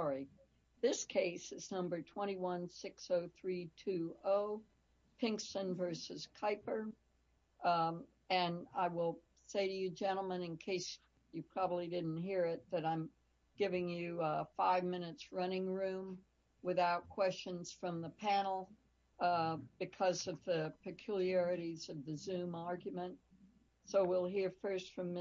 sorry this case is number 2160320 Pinkston v. Kuiper and I will say to you gentlemen in case you probably didn't hear it that I'm giving you five minutes running room without questions from the panel because of the peculiarities of the zoom argument so we'll hear first from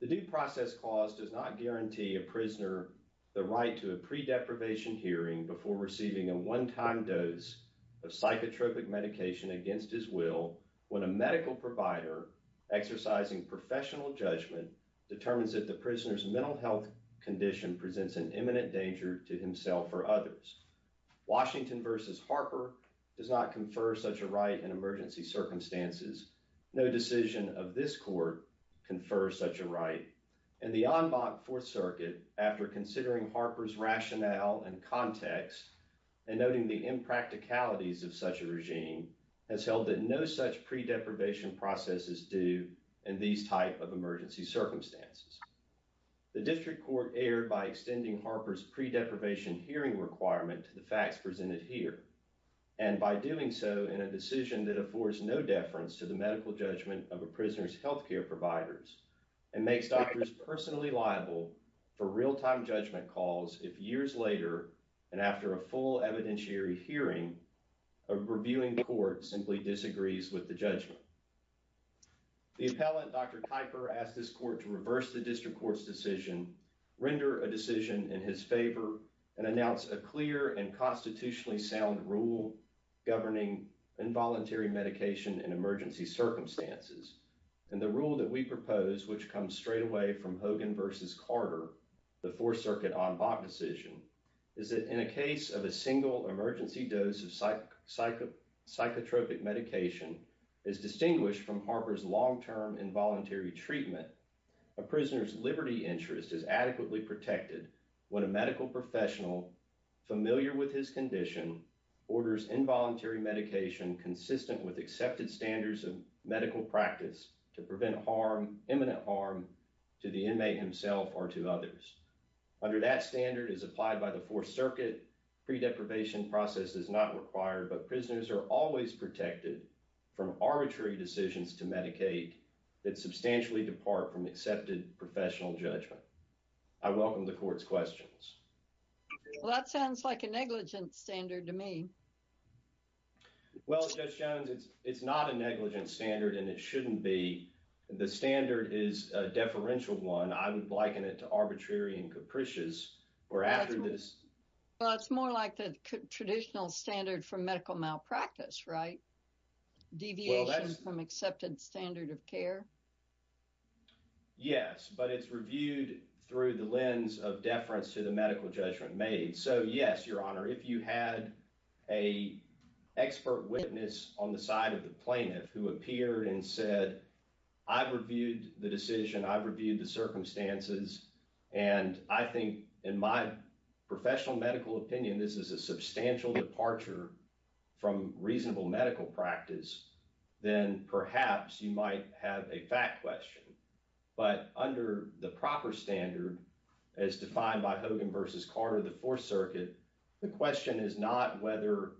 The due process clause does not guarantee a prisoner the right to a pre-deprivation hearing before receiving a one-time dose of psychotropic medication against his will when a medical provider exercising professional judgment determines that the prisoner's mental health condition presents an imminent danger to himself or others. Washington v. Harper does not confer such a right in emergency circumstances. No decision of this court confers such a right and the en banc Fourth Circuit after considering Harper's rationale and context and noting the impracticalities of such a regime has held that no such pre-deprivation process is due in these type of emergency circumstances. The district court erred by extending Harper's pre-deprivation hearing requirement to the decision that affords no deference to the medical judgment of a prisoner's health care providers and makes doctors personally liable for real-time judgment calls if years later and after a full evidentiary hearing a reviewing court simply disagrees with the judgment. The appellate Dr. Kuiper asked this court to reverse the district court's decision, render a decision in his favor, and announce a clear and constitutionally sound rule governing involuntary medication in emergency circumstances. And the rule that we propose, which comes straight away from Hogan v. Carter, the Fourth Circuit en banc decision, is that in a case of a single emergency dose of psychotropic medication is distinguished from Harper's long-term involuntary treatment, a prisoner's adequately protected when a medical professional familiar with his condition orders involuntary medication consistent with accepted standards of medical practice to prevent harm, imminent harm, to the inmate himself or to others. Under that standard as applied by the Fourth Circuit, pre-deprivation process is not required, but prisoners are always protected from arbitrary decisions to medicate that substantially depart from accepted professional judgment. I welcome the court's questions. Well, that sounds like a negligent standard to me. Well, Judge Jones, it's not a negligent standard, and it shouldn't be. The standard is a deferential one. I would liken it to arbitrary and capricious, or after this. Well, it's more like the traditional standard for medical malpractice, right? Deviation from accepted standard of care? Yes, but it's reviewed through the lens of deference to the medical judgment made. So yes, Your Honor, if you had a expert witness on the side of the plaintiff who appeared and said, I've reviewed the decision, I've reviewed the circumstances, and I think in my professional medical opinion, this is a substantial departure from reasonable medical practice, then perhaps you might have a fact question. But under the proper standard, as defined by Hogan v. Carter of the Fourth Circuit, the question is not whether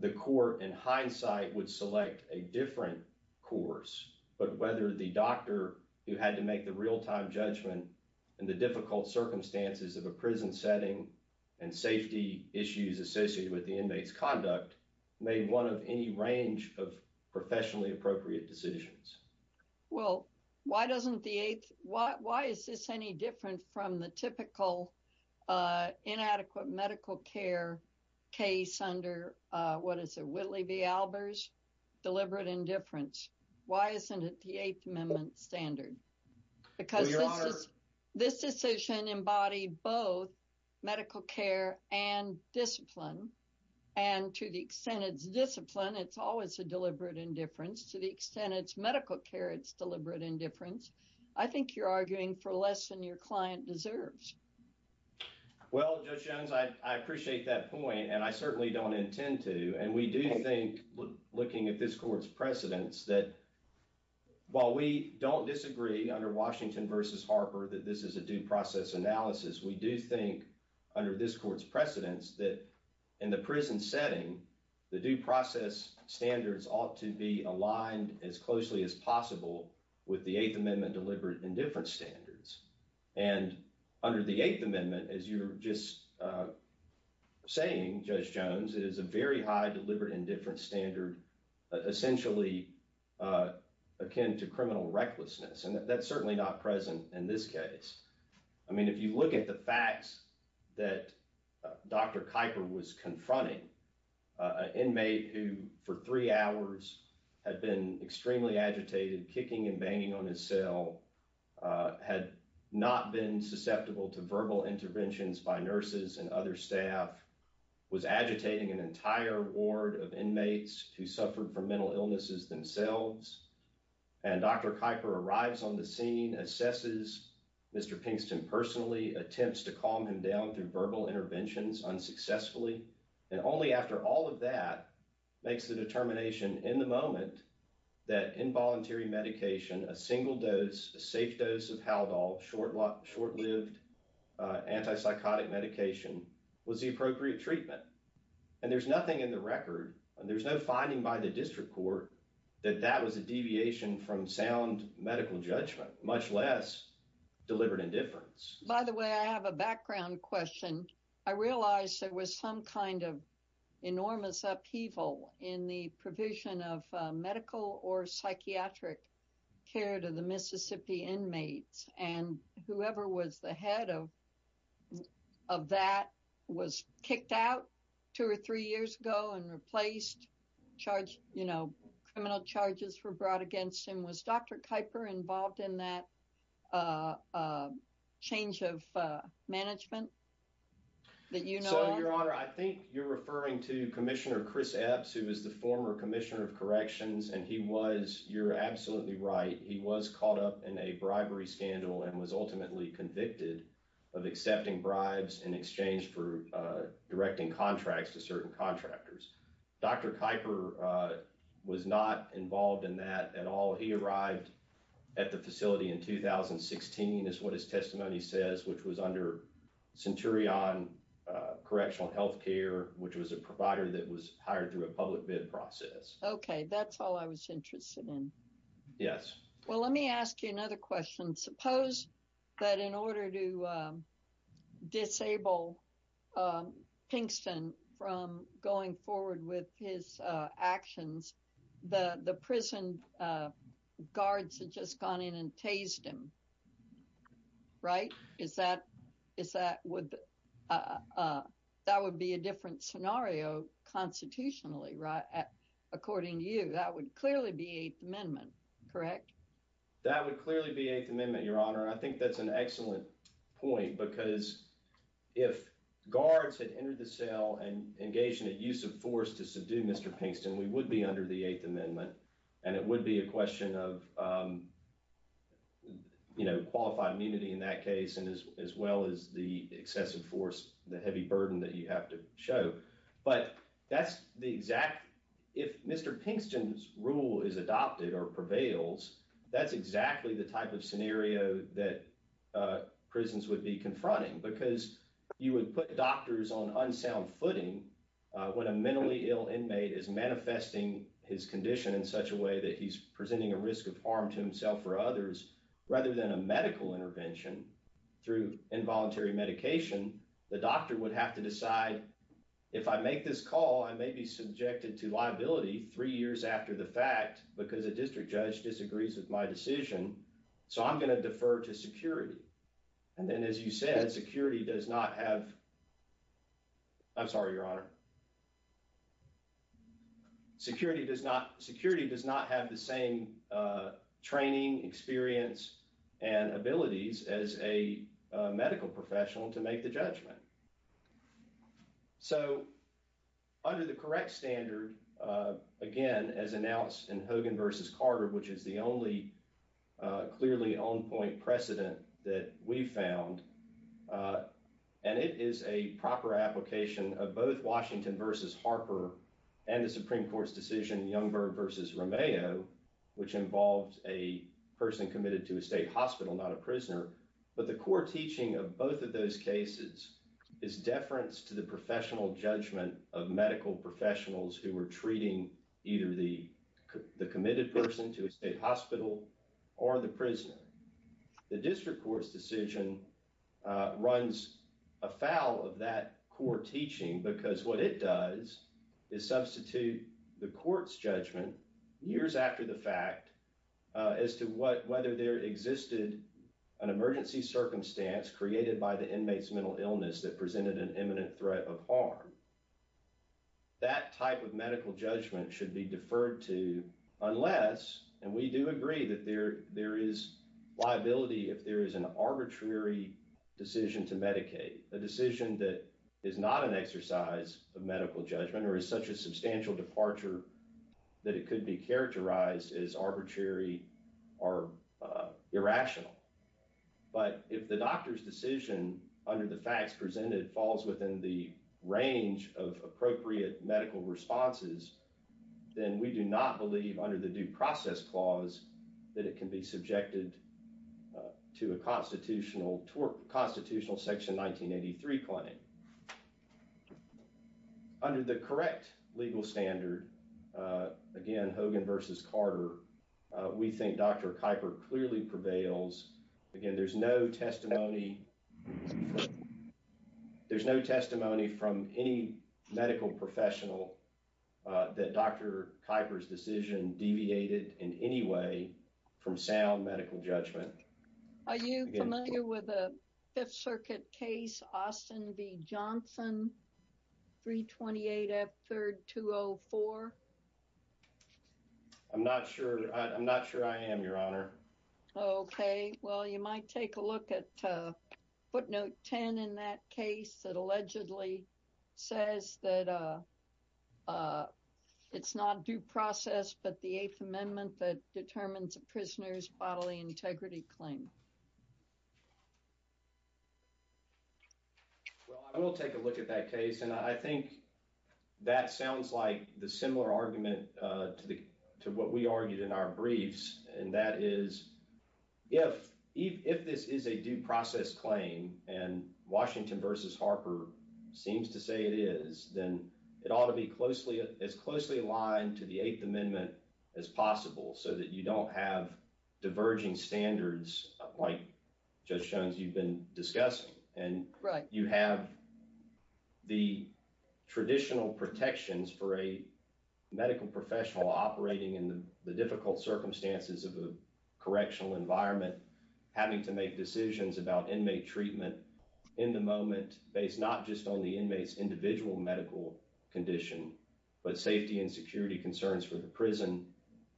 the court, in hindsight, would select a different course, but whether the doctor who had to make the real-time judgment in the difficult circumstances of a prison setting and safety issues associated with the inmate's conduct made one of any range of professionally appropriate decisions. Well, why doesn't the Eighth – why is this any different from the typical inadequate medical care case under, what is it, Whitley v. Albers, deliberate indifference? Why isn't it the Eighth Amendment standard? Because this decision embodied both medical care and discipline, and to the extent it's always a deliberate indifference, to the extent it's medical care it's deliberate indifference, I think you're arguing for less than your client deserves. Well, Judge Jones, I appreciate that point, and I certainly don't intend to, and we do think, looking at this court's precedents, that while we don't disagree under Washington v. Harper that this is a due process analysis, we do think, under this court's precedents, that in the prison setting, the due process standards ought to be aligned as closely as possible with the Eighth Amendment deliberate indifference standards. And under the Eighth Amendment, as you were just saying, Judge Jones, it is a very high deliberate indifference standard, essentially akin to criminal recklessness, and that's certainly not present in this case. I mean, if you look at the facts that Dr. Kuyper was confronting, an inmate who for three hours had been extremely agitated, kicking and banging on his cell, had not been susceptible to verbal interventions by nurses and other staff, was agitating an entire ward of inmates who suffered from mental illnesses themselves, and Dr. Kuyper arrives on the scene, assesses Mr. Pinkston personally, attempts to calm him down through verbal interventions unsuccessfully, and only after all of that makes the determination in the moment that involuntary medication, a single dose, a safe dose of Haldol, short-lived antipsychotic medication, was the appropriate treatment. And there's nothing in the record, there's no finding by the district court, that that was a deviation from sound medical judgment, much less deliberate indifference. By the way, I have a background question. I realized there was some kind of enormous upheaval in the provision of medical or psychiatric care to the Mississippi inmates, and whoever was the head of that was kicked out two or three years ago and replaced, charged, you know, criminal charges were brought against him. Was Dr. Kuyper involved in that change of management that you know of? So, Your Honor, I think you're referring to Commissioner Chris Epps, who was the former Commissioner of Corrections, and he was, you're absolutely right, he was caught up in a bribery scandal and was ultimately convicted of accepting bribes in exchange for directing contracts to certain contractors. Dr. Kuyper was not involved in that at all. He arrived at the facility in 2016, is what his testimony says, which was under Centurion Correctional Health Care, which was a provider that was hired through a public bid process. Okay, that's all I was interested in. Yes. Well, let me ask you another question. Suppose that in order to disable Pinkston from going forward with his actions, the prison guards had just gone in and tased him, right? Is that, is that, that would be a different scenario constitutionally, right? According to you, that would clearly be Eighth Amendment, correct? That would clearly be Eighth Amendment, Your Honor, and I think that's an excellent point because if guards had entered the cell and engaged in a use of force to subdue Mr. Pinkston, we would be under the Eighth Amendment, and it would be a question of, you know, qualified immunity in that case, as well as the excessive force, the heavy burden that you have to show. But that's the exact, if Mr. Pinkston's rule is adopted or prevails, that's exactly the type of scenario that prisons would be confronting, because you would put doctors on unsound footing when a mentally ill inmate is manifesting his condition in such a way that he's presenting a risk of harm to himself or others, rather than a medical intervention through involuntary medication, the doctor would have to decide, if I make this call, I may be subjected to liability three years after the fact, because a district judge disagrees with my decision, so I'm going to defer to security. And then as you said, security does not have, I'm sorry, Your Honor, security does not, security does not have the same training, experience, and abilities as a medical professional to make the judgment. So under the correct standard, again, as announced in Hogan v. Carter, which is the only clearly on-point precedent that we found, and it is a proper application of both Washington v. Harper and the Supreme Court's decision, Youngberg v. Romeo, which involved a person committed to a state hospital, not a prisoner, but the core teaching of both of those cases is deference to the professional judgment of medical professionals who were treating either the committed person The district court's decision runs afoul of that core teaching, because what it does is substitute the court's judgment years after the fact as to whether there existed an emergency circumstance created by the inmate's mental illness that presented an imminent threat of harm. That type of medical judgment should be deferred to unless, and we do agree that there is liability if there is an arbitrary decision to medicate, a decision that is not an exercise of medical judgment or is such a substantial departure that it could be characterized as arbitrary or irrational, but if the doctor's decision under the facts presented falls within the range of appropriate medical responses, then we do not believe under the due process clause that it can be subjected to a constitutional section 1983 claim. Under the correct legal standard, again Hogan v. Carter, we think Dr. Kuyper clearly prevails. Again, there's no testimony from any medical professional that Dr. Kuyper's decision deviated in any way from sound medical judgment. Are you familiar with a Fifth Circuit case, Austin v. Johnson, 328 F. 3rd 204? I'm not sure. I'm not sure I am, Your Honor. Okay, well, you might take a look at footnote 10 in that case that allegedly says that it's not due process but the Eighth Amendment that determines a prisoner's bodily integrity claim. Well, I will take a look at that case, and I think that sounds like the similar argument to what we argued in our briefs, and that is if this is a due process claim and Washington v. Harper seems to say it is, then it ought to be as closely aligned to the Eighth Amendment as possible so that you don't have diverging standards like, Judge Jones, you've been discussing, and you have the traditional protections for a medical professional operating in the difficult circumstances of a correctional environment having to make decisions about based not just on the inmate's individual medical condition but safety and security concerns for the prison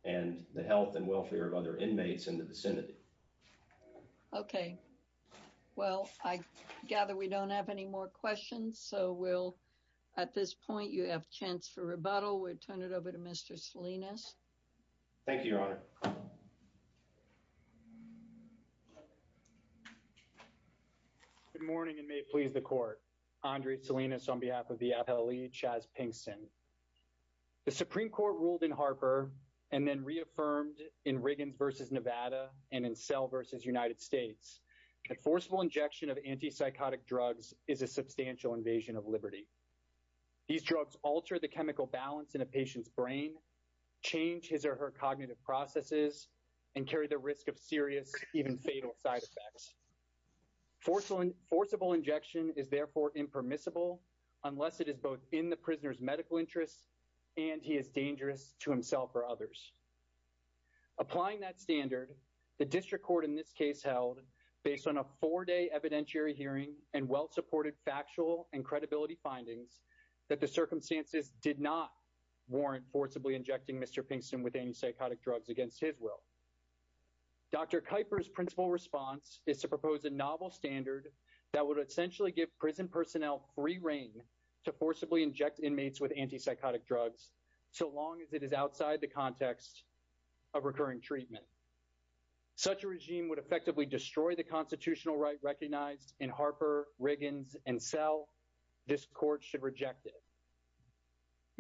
and the health and welfare of other inmates in the vicinity. Okay, well, I gather we don't have any more questions, so we'll, at this point, you have a chance for rebuttal. We'll turn it over to Mr. Salinas. Thank you, Your Honor. Good morning, and may it please the Court. Andre Salinas on behalf of the appellee, Chas Pinkston. The Supreme Court ruled in Harper and then reaffirmed in Riggins v. Nevada and in Sell v. United States that forceful injection of anti-psychotic drugs is a substantial invasion of liberty. These drugs alter the chemical balance in a patient's brain, change his or her cognitive processes, and carry the risk of serious, even fatal, side effects. Forcible injection is therefore impermissible unless it is both in the prisoner's medical interests and he is dangerous to himself or others. Applying that standard, the District Court in this case held, based on a four-day evidentiary hearing and well-supported factual and credibility findings, that the circumstances did not warrant forcibly injecting Mr. Pinkston with anti-psychotic drugs against his will. Dr. Kuyper's principal response is to propose a novel standard that would essentially give prison personnel free reign to forcibly inject inmates with anti-psychotic drugs so long as it is outside the context of recurring treatment. Such a regime would effectively destroy the constitutional right recognized in Harper, Riggins, and Sell. This Court should reject it.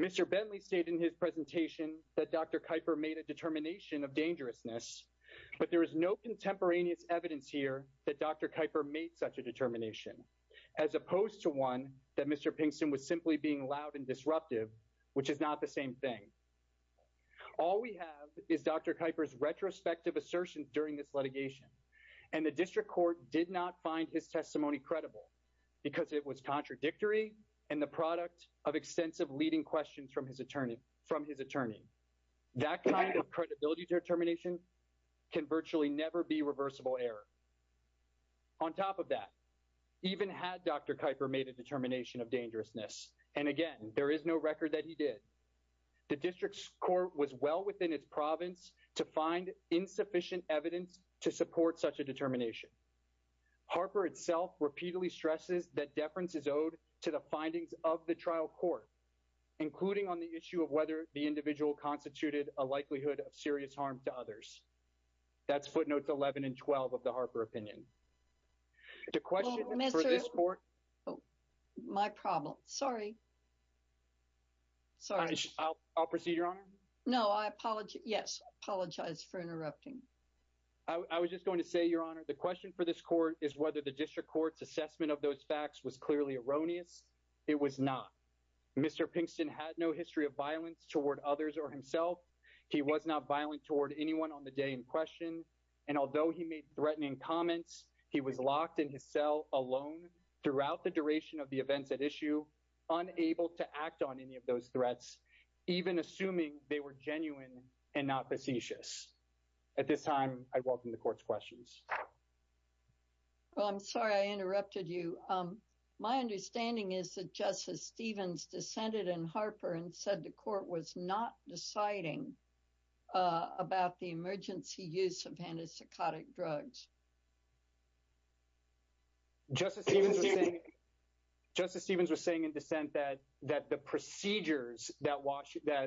Mr. Bentley stated in his presentation that Dr. Kuyper made a determination of dangerousness, but there is no contemporaneous evidence here that Dr. Kuyper made such a determination, as opposed to one that Mr. Pinkston was simply being loud and disruptive, which is not the same thing. All we have is Dr. Kuyper's retrospective assertion during this litigation, and the District Court did not find his testimony credible because it was contradictory and the product of extensive leading questions from his attorney. That kind of credibility determination can virtually never be reversible error. On top of that, even had Dr. Kuyper made a determination of dangerousness, and again, there is no record that he did, the District's Court was well within its province to find insufficient evidence to support such a the trial court, including on the issue of whether the individual constituted a likelihood of serious harm to others. That's footnotes 11 and 12 of the Harper opinion. The question for this court. My problem. Sorry. Sorry. I'll proceed, Your Honor. No, I apologize. Yes. I apologize for interrupting. I was just going to say, Your Honor, the question for this court is whether the District Court's assessment of those facts was clearly erroneous. It was not. Mr. Pinkston had no history of violence toward others or himself. He was not violent toward anyone on the day in question, and although he made threatening comments, he was locked in his cell alone throughout the duration of the events at issue, unable to act on any of those threats, even assuming they were genuine and not facetious. At this time, I welcome the court's questions. Well, I'm sorry I interrupted you. My understanding is that Justice Stevens dissented in Harper and said the court was not deciding about the emergency use of antipsychotic drugs. Justice Stevens was saying in dissent that the procedures that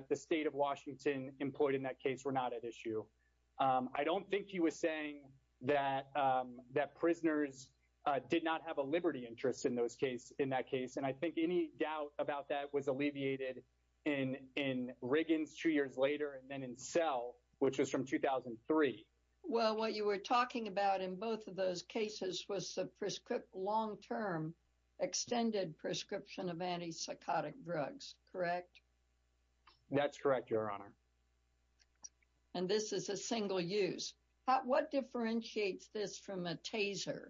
the state of Washington employed in that case were not at issue. I don't think he was saying that prisoners did not have a liberty interest in that case, and I think any doubt about that was alleviated in Riggins two years later and then in Sell, which was from 2003. Well, what you were talking about in both of those cases was the long-term extended prescription of antipsychotic drugs, correct? That's correct, Your Honor. And this is a single use. What differentiates this from a taser?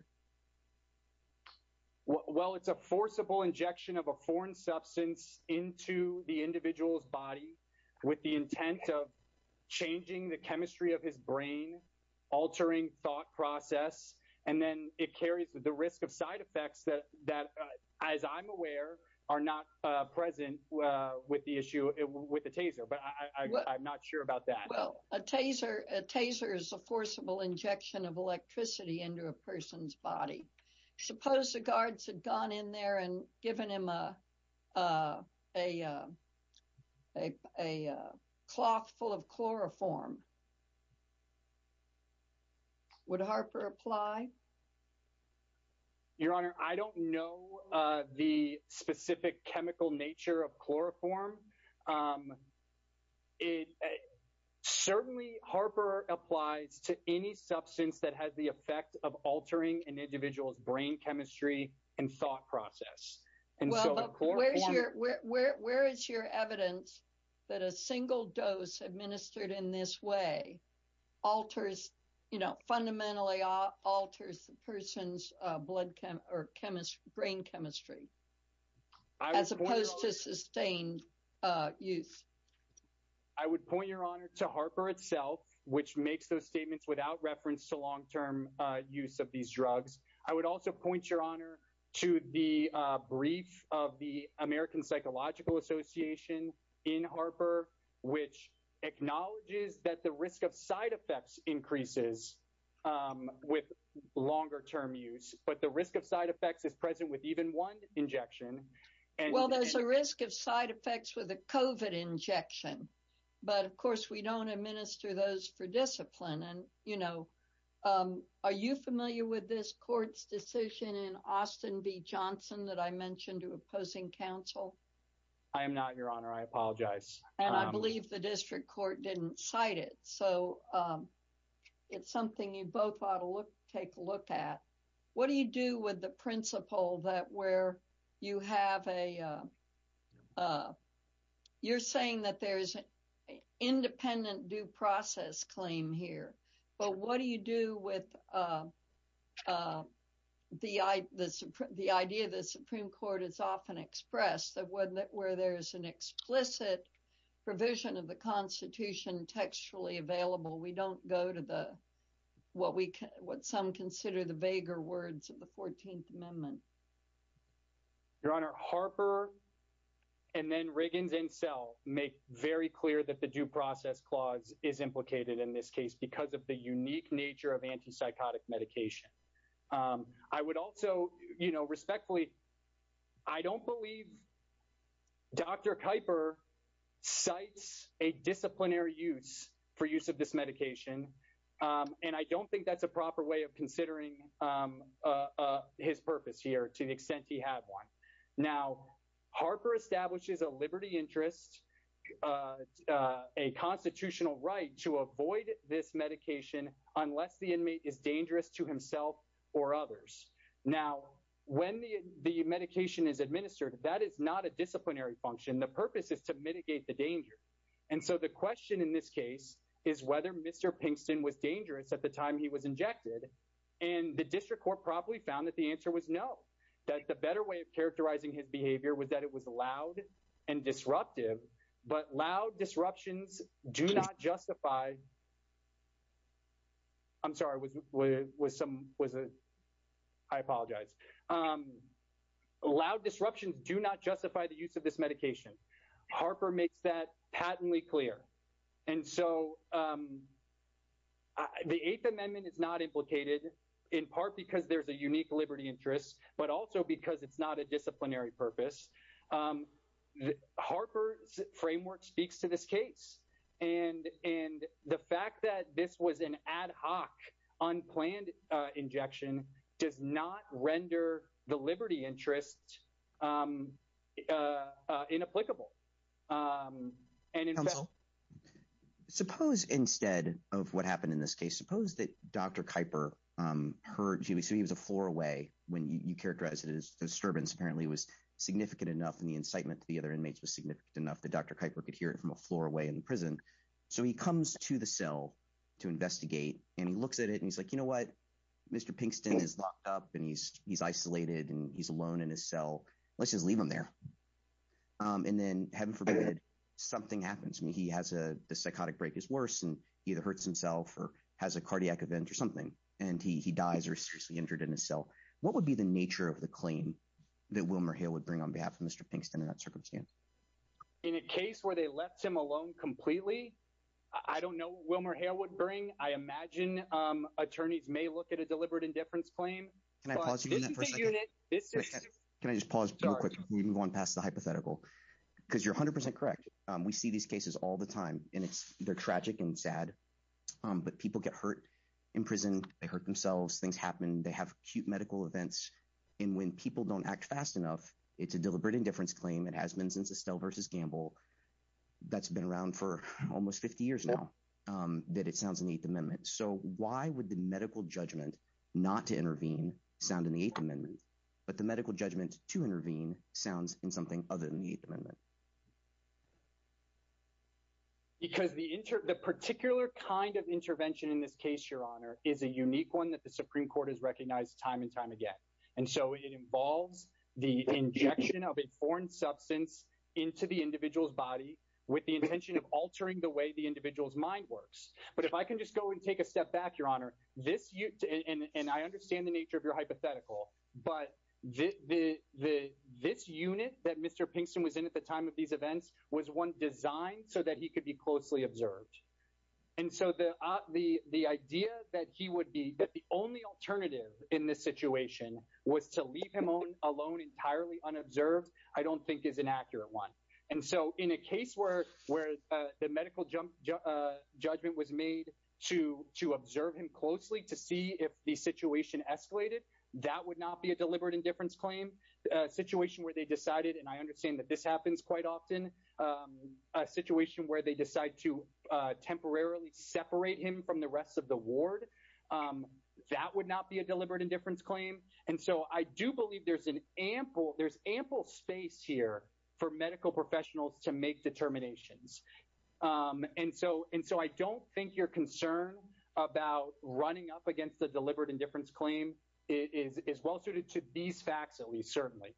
Well, it's a forcible injection of a foreign substance into the individual's body with the intent of changing the chemistry of his brain, altering thought process, and then it carries the risk of side effects that, as I'm aware, are not present with the taser, but I'm not sure about that. Well, a taser is a forcible injection of electricity into a person's body. Suppose the guards had gone in there and given him a cloth full of chloroform. Would Harper apply? Your Honor, I don't know the specific chemical nature of chloroform. Certainly, Harper applies to any substance that has the effect of altering an individual's brain chemistry and thought process. Where is your evidence that a single dose administered in this alters, you know, fundamentally alters a person's brain chemistry as opposed to sustained use? I would point, Your Honor, to Harper itself, which makes those statements without reference to long-term use of these drugs. I would also point, Your Honor, to the brief of the American Psychological Association in Harper, which acknowledges that the risk of side effects increases with longer-term use, but the risk of side effects is present with even one injection. Well, there's a risk of side effects with a COVID injection, but of course we don't administer those for discipline. And, you know, are you familiar with this court's decision in Austin v. Johnson that I mentioned to opposing counsel? I am not, Your Honor. I apologize. And I believe the district court didn't cite it, so it's something you both ought to look, take a look at. What do you do with the principle that where you have a, you're saying that there's an independent due process claim here, but what do you do with the idea that the Supreme Court has often expressed that where there's an explicit provision of the Constitution textually available, we don't go to the, what some consider the vaguer words of the 14th Amendment? Your Honor, Harper and then Riggins and Sell make very clear that the due process clause is implicated in this case because of the unique nature of antipsychotic medication. I would also, you know, respectfully, I don't believe Dr. Kuyper cites a disciplinary use for use of this medication, and I don't think that's a proper way of considering his purpose here to the extent he had one. Now, Harper establishes a liberty interest, a constitutional right to avoid this medication unless the inmate is dangerous to himself or others. Now, when the medication is administered, that is not a disciplinary function. The purpose is to mitigate the danger. And so the question in this case is whether Mr. Pinkston was dangerous at the time he was injected, and the district court probably found that the answer was no, that the better way of characterizing his behavior was that it was loud and disruptive, but loud disruptions do not justify, I'm sorry, I apologize, loud disruptions do not justify the use of this medication. Harper makes that patently clear. And so the 8th Amendment is not implicated in part because there's a unique liberty interest, but also because it's not a disciplinary purpose. Harper's framework speaks to this case, and the fact that this was an ad hoc, unplanned injection does not render the liberty interest inapplicable. And in fact- Suppose instead of what happened in this case, suppose that Dr. Kuyper heard, so he was a floor away when you characterize it as disturbance, apparently it was significant enough and the incitement to the other inmates was significant enough that Dr. Kuyper could hear it from a floor away in the prison. So he comes to the cell to investigate and he looks at it and he's like, you know what, Mr. Pinkston is locked up and he's isolated and he's alone in his cell, let's just leave him there. And then heaven forbid, something happens. I mean, he has a, the psychotic break is worse and he either hurts himself or has a cardiac event or something, and he dies or is seriously injured in his cell. What would be the nature of the claim that Wilmer Hale would bring on behalf of Mr. Pinkston in that circumstance? In a case where they left him alone completely, I don't know Wilmer Hale would bring, I imagine attorneys may look at a deliberate indifference claim. Can I pause you on that for a second? Can I just pause real quick before we even go on past the hypothetical? Because you're 100% correct. We see these cases all the time and they're tragic and sad, but people get hurt in prison, they hurt themselves, things happen, they have acute medical events. And when people don't act fast enough, it's a deliberate indifference claim. It has been since Estelle versus Gamble, that's been around for almost 50 years now, that it sounds in the Eighth Amendment. So why would the medical judgment not to intervene sound in the Eighth Amendment, but the medical judgment to intervene sounds in something other than the Eighth Amendment? Because the particular kind of intervention in this case, Your Honor, is a unique one that the Supreme Court has recognized time and time again. And so it involves the injection of a foreign substance into the individual's body with the intention of altering the way the individual's mind works. But if I can just go and take a step back, Your Honor, and I understand the nature of hypothetical, but this unit that Mr. Pinkston was in at the time of these events was one designed so that he could be closely observed. And so the idea that he would be, that the only alternative in this situation was to leave him alone entirely unobserved, I don't think is an accurate one. And so in a case where the medical judgment was made to observe him closely to see if the situation escalated, that would not be a deliberate indifference claim. A situation where they decided, and I understand that this happens quite often, a situation where they decide to temporarily separate him from the rest of the ward, that would not be a deliberate indifference claim. And so I do believe there's an ample, there's ample space here for medical professionals to make determinations. And so I don't think you're concerned about running up against the is well suited to these facts, at least certainly.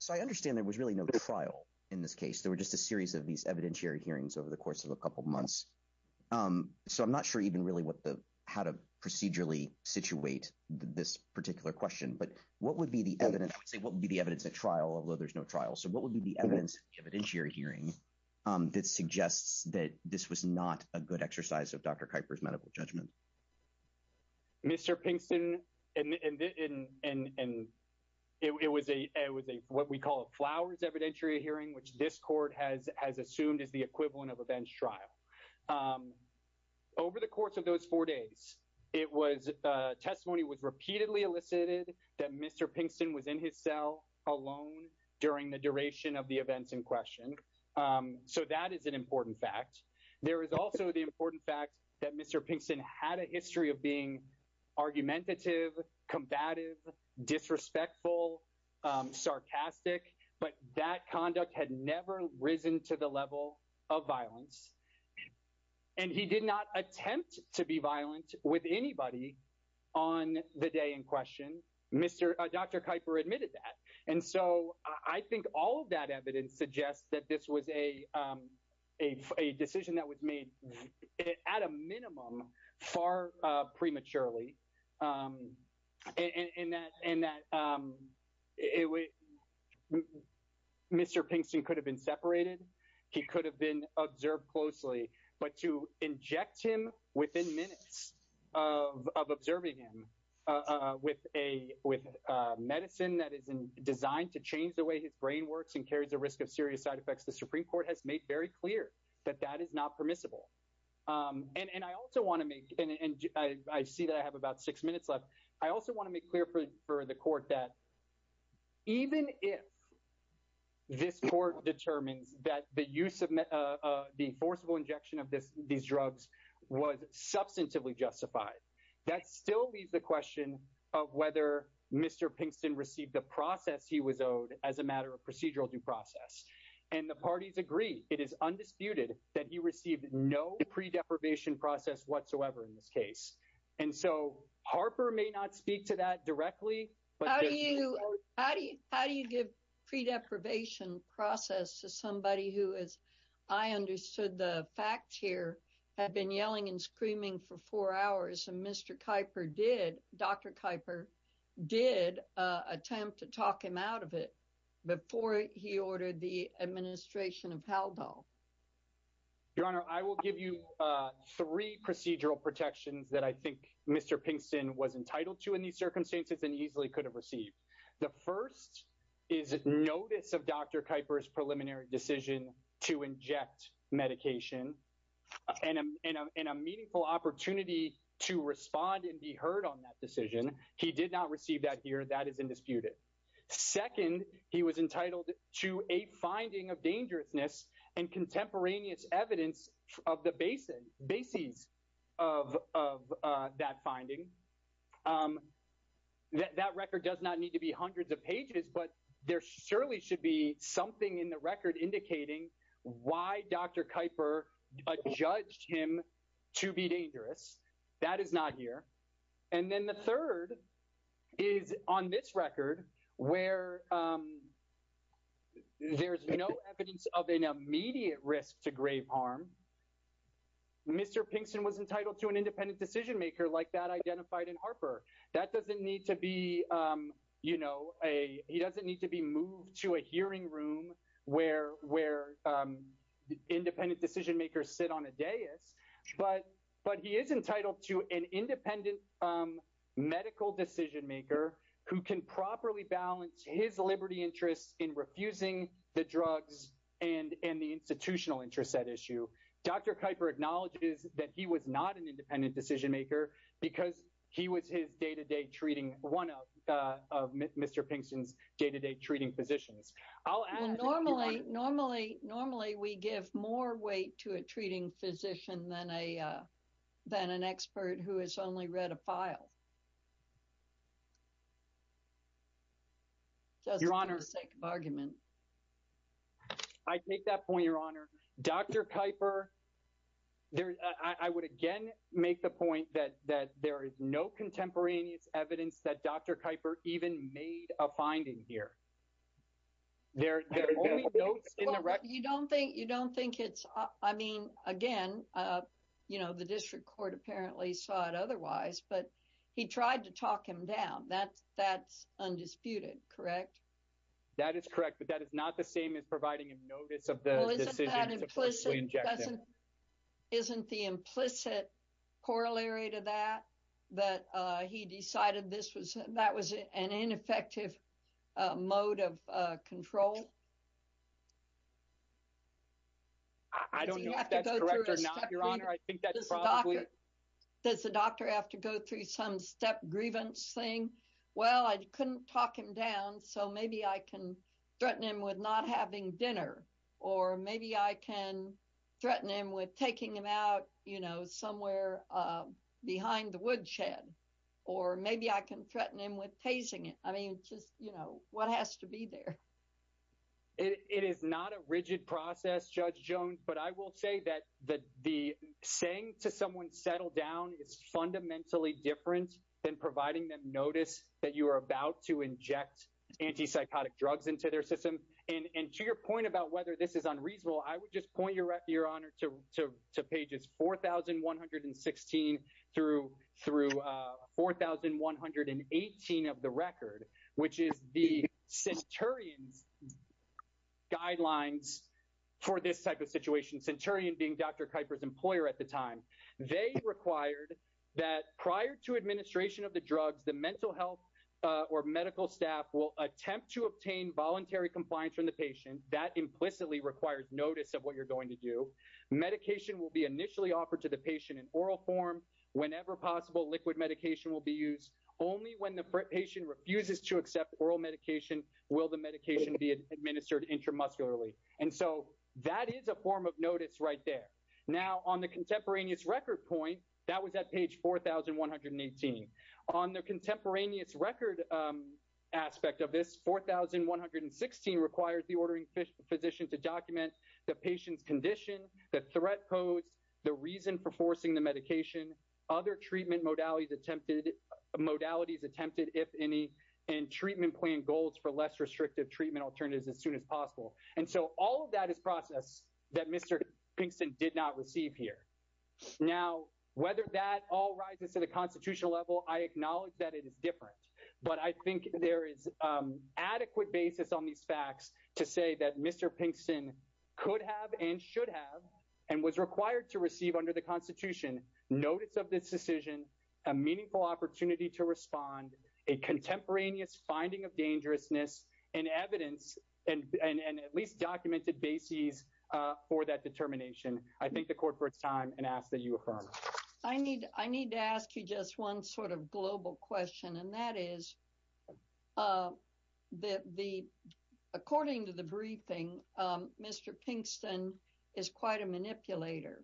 So I understand there was really no trial in this case. There were just a series of these evidentiary hearings over the course of a couple of months. So I'm not sure even really what the, how to procedurally situate this particular question, but what would be the evidence? I would say, what would be the evidence at trial, although there's no trial? So what would be the evidence of the evidentiary hearing that suggests that this was not a good exercise of Dr. Kuiper's medical judgment? Mr. Pinkston, and it was a, it was a, what we call a flowers evidentiary hearing, which this court has assumed is the equivalent of a bench trial. Over the course of those four days, it was, testimony was repeatedly elicited that Mr. Pinkston was in his cell alone during the duration of the events in question. So that is an important fact. There is also the important fact that Mr. Pinkston had a history of being argumentative, combative, disrespectful, sarcastic, but that conduct had never risen to the level of violence. And he did not attempt to be violent with anybody on the day in question. Dr. Kuiper admitted that. And so I think all of that evidence suggests that this was a decision that was made at a minimum, far prematurely, and that Mr. Pinkston could have been separated. He could have been observed closely, but to inject him within minutes of observing him with medicine that is designed to change the way his brain works and carries a risk of serious side effects, the Supreme Court has made very clear that that is not permissible. And I also want to make, and I see that I have about six minutes left, I also want to make clear for the court that even if this court determines that the use of the forcible injection of these drugs was substantively justified, that still leaves the matter of procedural due process. And the parties agree, it is undisputed that he received no pre-deprivation process whatsoever in this case. And so Harper may not speak to that directly, but how do you give pre-deprivation process to somebody who is, I understood the fact here, had been yelling and screaming for four hours and Mr. Kuiper did, Dr. Kuiper did attempt to talk him out of it before he ordered the administration of Haldol. Your Honor, I will give you three procedural protections that I think Mr. Pinkston was entitled to in these circumstances and easily could have received. The first is notice of Dr. Kuiper's preliminary decision to inject medication and a meaningful opportunity to respond and be heard on that decision. He did not receive that here, that is undisputed. Second, he was entitled to a finding of dangerousness and contemporaneous evidence of the basis of that finding. That record does not need to be hundreds of pages, but there surely should be something in the record indicating why Dr. Kuiper judged him to be dangerous. That is not here. And then the third is on this record where there's no evidence of an immediate risk to grave harm. Mr. Pinkston was entitled to an independent decision maker like that identified in Harper. That doesn't need to be, you know, he doesn't need to be moved to a hearing room where independent decision makers sit on a but he is entitled to an independent medical decision maker who can properly balance his liberty interests in refusing the drugs and the institutional interests at issue. Dr. Kuiper acknowledges that he was not an independent decision maker because he was his day-to-day treating one of Mr. Pinkston's day-to-day treating physicians. I'll add normally we give more weight to a treating physician than an expert who has only read a file. Just for the sake of argument. I take that point, Your Honor. Dr. Kuiper, I would again make the point that there is no contemporaneous evidence that Dr. Kuiper even made a finding here. Well, you don't think, you don't think it's, I mean, again, you know, the district court apparently saw it otherwise, but he tried to talk him down. That's undisputed, correct? That is correct, but that is not the same as providing him notice of the decision. Isn't the implicit corollary to that that he decided this was, that was an ineffective mode of control? I don't know if that's correct or not, Your Honor. I think that's probably... Does the doctor have to go through some step grievance saying, well, I couldn't talk him down, so maybe I can threaten him with not having dinner, or maybe I can threaten him with taking him out, you know, somewhere behind the woodshed, or maybe I can threaten him with paging it. I mean, just, you know, what has to be there? It is not a rigid process, Judge Jones, but I will say that the saying to someone settle down is fundamentally different than providing them notice that you are about to inject antipsychotic drugs into their system. And to your point about whether this is unreasonable, I would just point, Your Honor, to pages 4,116 through 4,118 of the record, which is the Centurion's guidelines for this type of situation, Centurion being Dr. Kuyper's employer at the time. They required that prior to administration of the drugs, the mental health or medical staff will attempt to obtain voluntary compliance from the patient. That implicitly requires notice of what you're going to do. Medication will be initially offered to the patient in oral form. Whenever possible, liquid medication will be used. Only when the patient refuses to accept oral medication will the medication be administered intramuscularly. And so that is a form of notice right there. Now, on the contemporaneous record point, that was at page 4,118. On the contemporaneous record aspect of this, 4,116 requires the ordering physician to document the patient's condition, the threat posed, the reason for forcing the medication, other treatment modalities attempted, modalities attempted, if any, and treatment plan goals for less restrictive treatment alternatives as soon as possible. And so all of that is process that Mr. Kingston did not receive here. Now, whether that all rises to the constitutional level, I acknowledge that it is different. But I think there is adequate basis on these facts to say that Mr. Kingston could have and should have and was required to receive under the Constitution notice of this decision, a meaningful opportunity to respond, a contemporaneous finding of dangerousness, and evidence and at least documented bases for that determination. I thank the court for its and that is that the, according to the briefing, Mr. Kingston is quite a manipulator.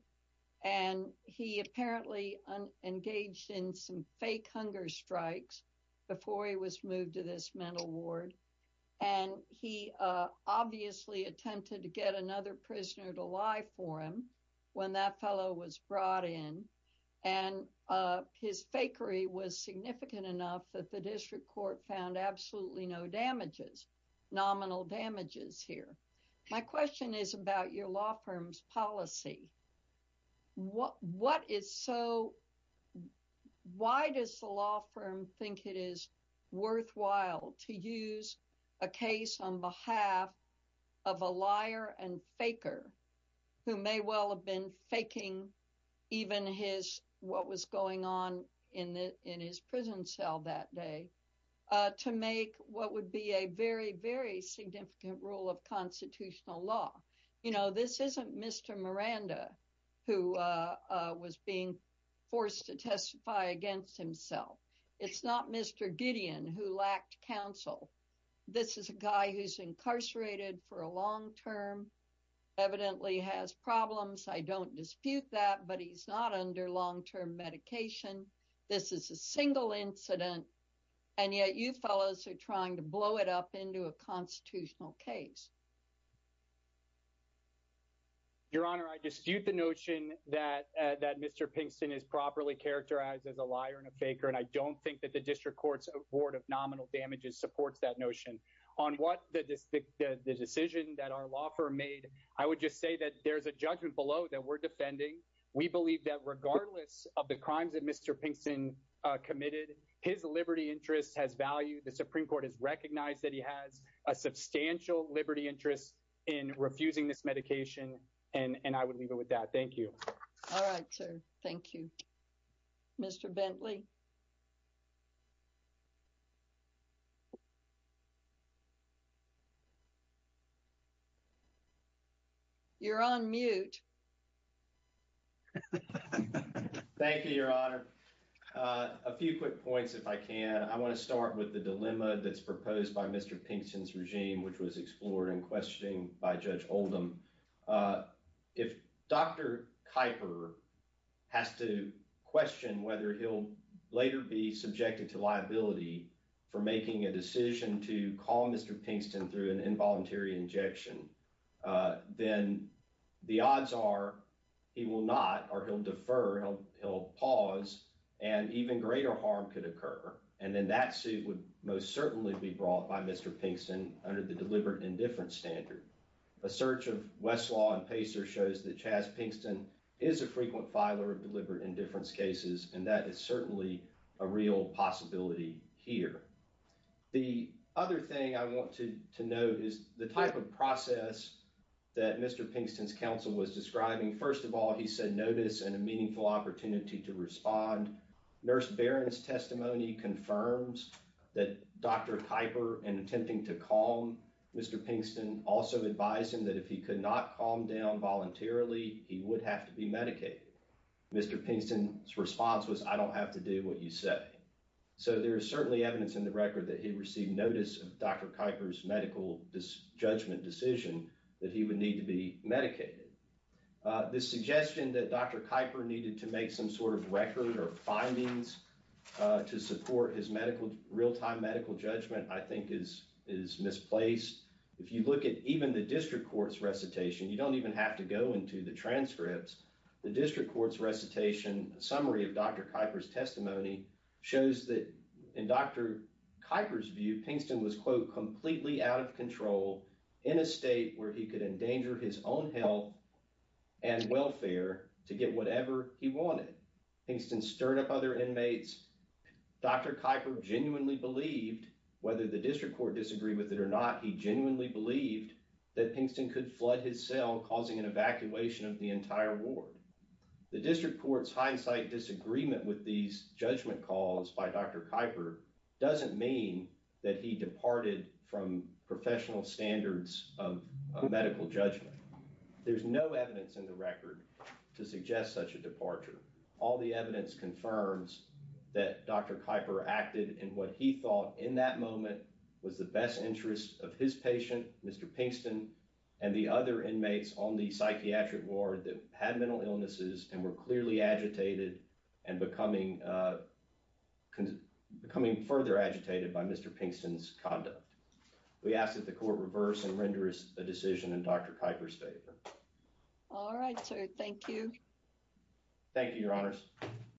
And he apparently engaged in some fake hunger strikes before he was moved to this mental ward. And he obviously attempted to get another prisoner to lie for him when that fellow was brought in. And his fakery was significant enough that the district court found absolutely no damages, nominal damages here. My question is about your law firm's policy. What is so, why does the law firm think it is worthwhile to use a case on behalf of a liar and faker, who may well have been faking even his what was going on in the in his prison cell that day, to make what would be a very, very significant rule of constitutional law? You know, this isn't Mr. Miranda, who was being forced to testify against himself. It's not Mr. Gideon who lacked counsel. This is a guy who's incarcerated for a long term, evidently has problems. I don't dispute that. But he's not under long term medication. This is a single incident. And yet you fellows are trying to blow it up into a constitutional case. Your Honor, I dispute the notion that, that Mr. Kingston is properly characterized as a liar and a faker. And I don't think that the supports that notion. On what the decision that our law firm made, I would just say that there's a judgment below that we're defending. We believe that regardless of the crimes that Mr. Kingston committed, his liberty interest has value. The Supreme Court has recognized that he has a substantial liberty interest in refusing this medication. And I would leave it with that. Thank you. All right, sir. Thank you. Mr. Bentley. You're on mute. Thank you, Your Honor. A few quick points, if I can. I want to start with the dilemma that's proposed by Mr. Kingston's regime, which was explored in questioning by Judge Oldham. If Dr. to call Mr. Kingston through an involuntary injection, then the odds are he will not, or he'll defer, he'll pause, and even greater harm could occur. And then that suit would most certainly be brought by Mr. Kingston under the deliberate indifference standard. A search of Westlaw and Pacer shows that Chas Kingston is a frequent filer of deliberate indifference cases. That is certainly a real possibility here. The other thing I want to note is the type of process that Mr. Kingston's counsel was describing. First of all, he said notice and a meaningful opportunity to respond. Nurse Barron's testimony confirms that Dr. Kuyper, in attempting to calm Mr. Kingston, also advised him that if he could not calm down voluntarily, he would have to be I don't have to do what you say. So there is certainly evidence in the record that he received notice of Dr. Kuyper's medical judgment decision that he would need to be medicated. This suggestion that Dr. Kuyper needed to make some sort of record or findings to support his real-time medical judgment I think is misplaced. If you look at even the district court's recitation, you don't even Dr. Kuyper's testimony shows that in Dr. Kuyper's view, Kingston was, quote, completely out of control in a state where he could endanger his own health and welfare to get whatever he wanted. Kingston stirred up other inmates. Dr. Kuyper genuinely believed, whether the district court disagreed with it or not, he genuinely believed that Kingston could flood his cell, causing an evacuation of the entire ward. The district court's hindsight disagreement with these judgment calls by Dr. Kuyper doesn't mean that he departed from professional standards of medical judgment. There's no evidence in the record to suggest such a departure. All the evidence confirms that Dr. Kuyper acted in what he thought, in that moment, was the best interest of his patient, Mr. Kingston, and the other inmates on the psychiatric ward that had mental illnesses and were clearly agitated and becoming further agitated by Mr. Kingston's conduct. We ask that the court reverse and render a decision in Dr. Kuyper's favor. All right, sir. Thank you. Thank you, Your Honors.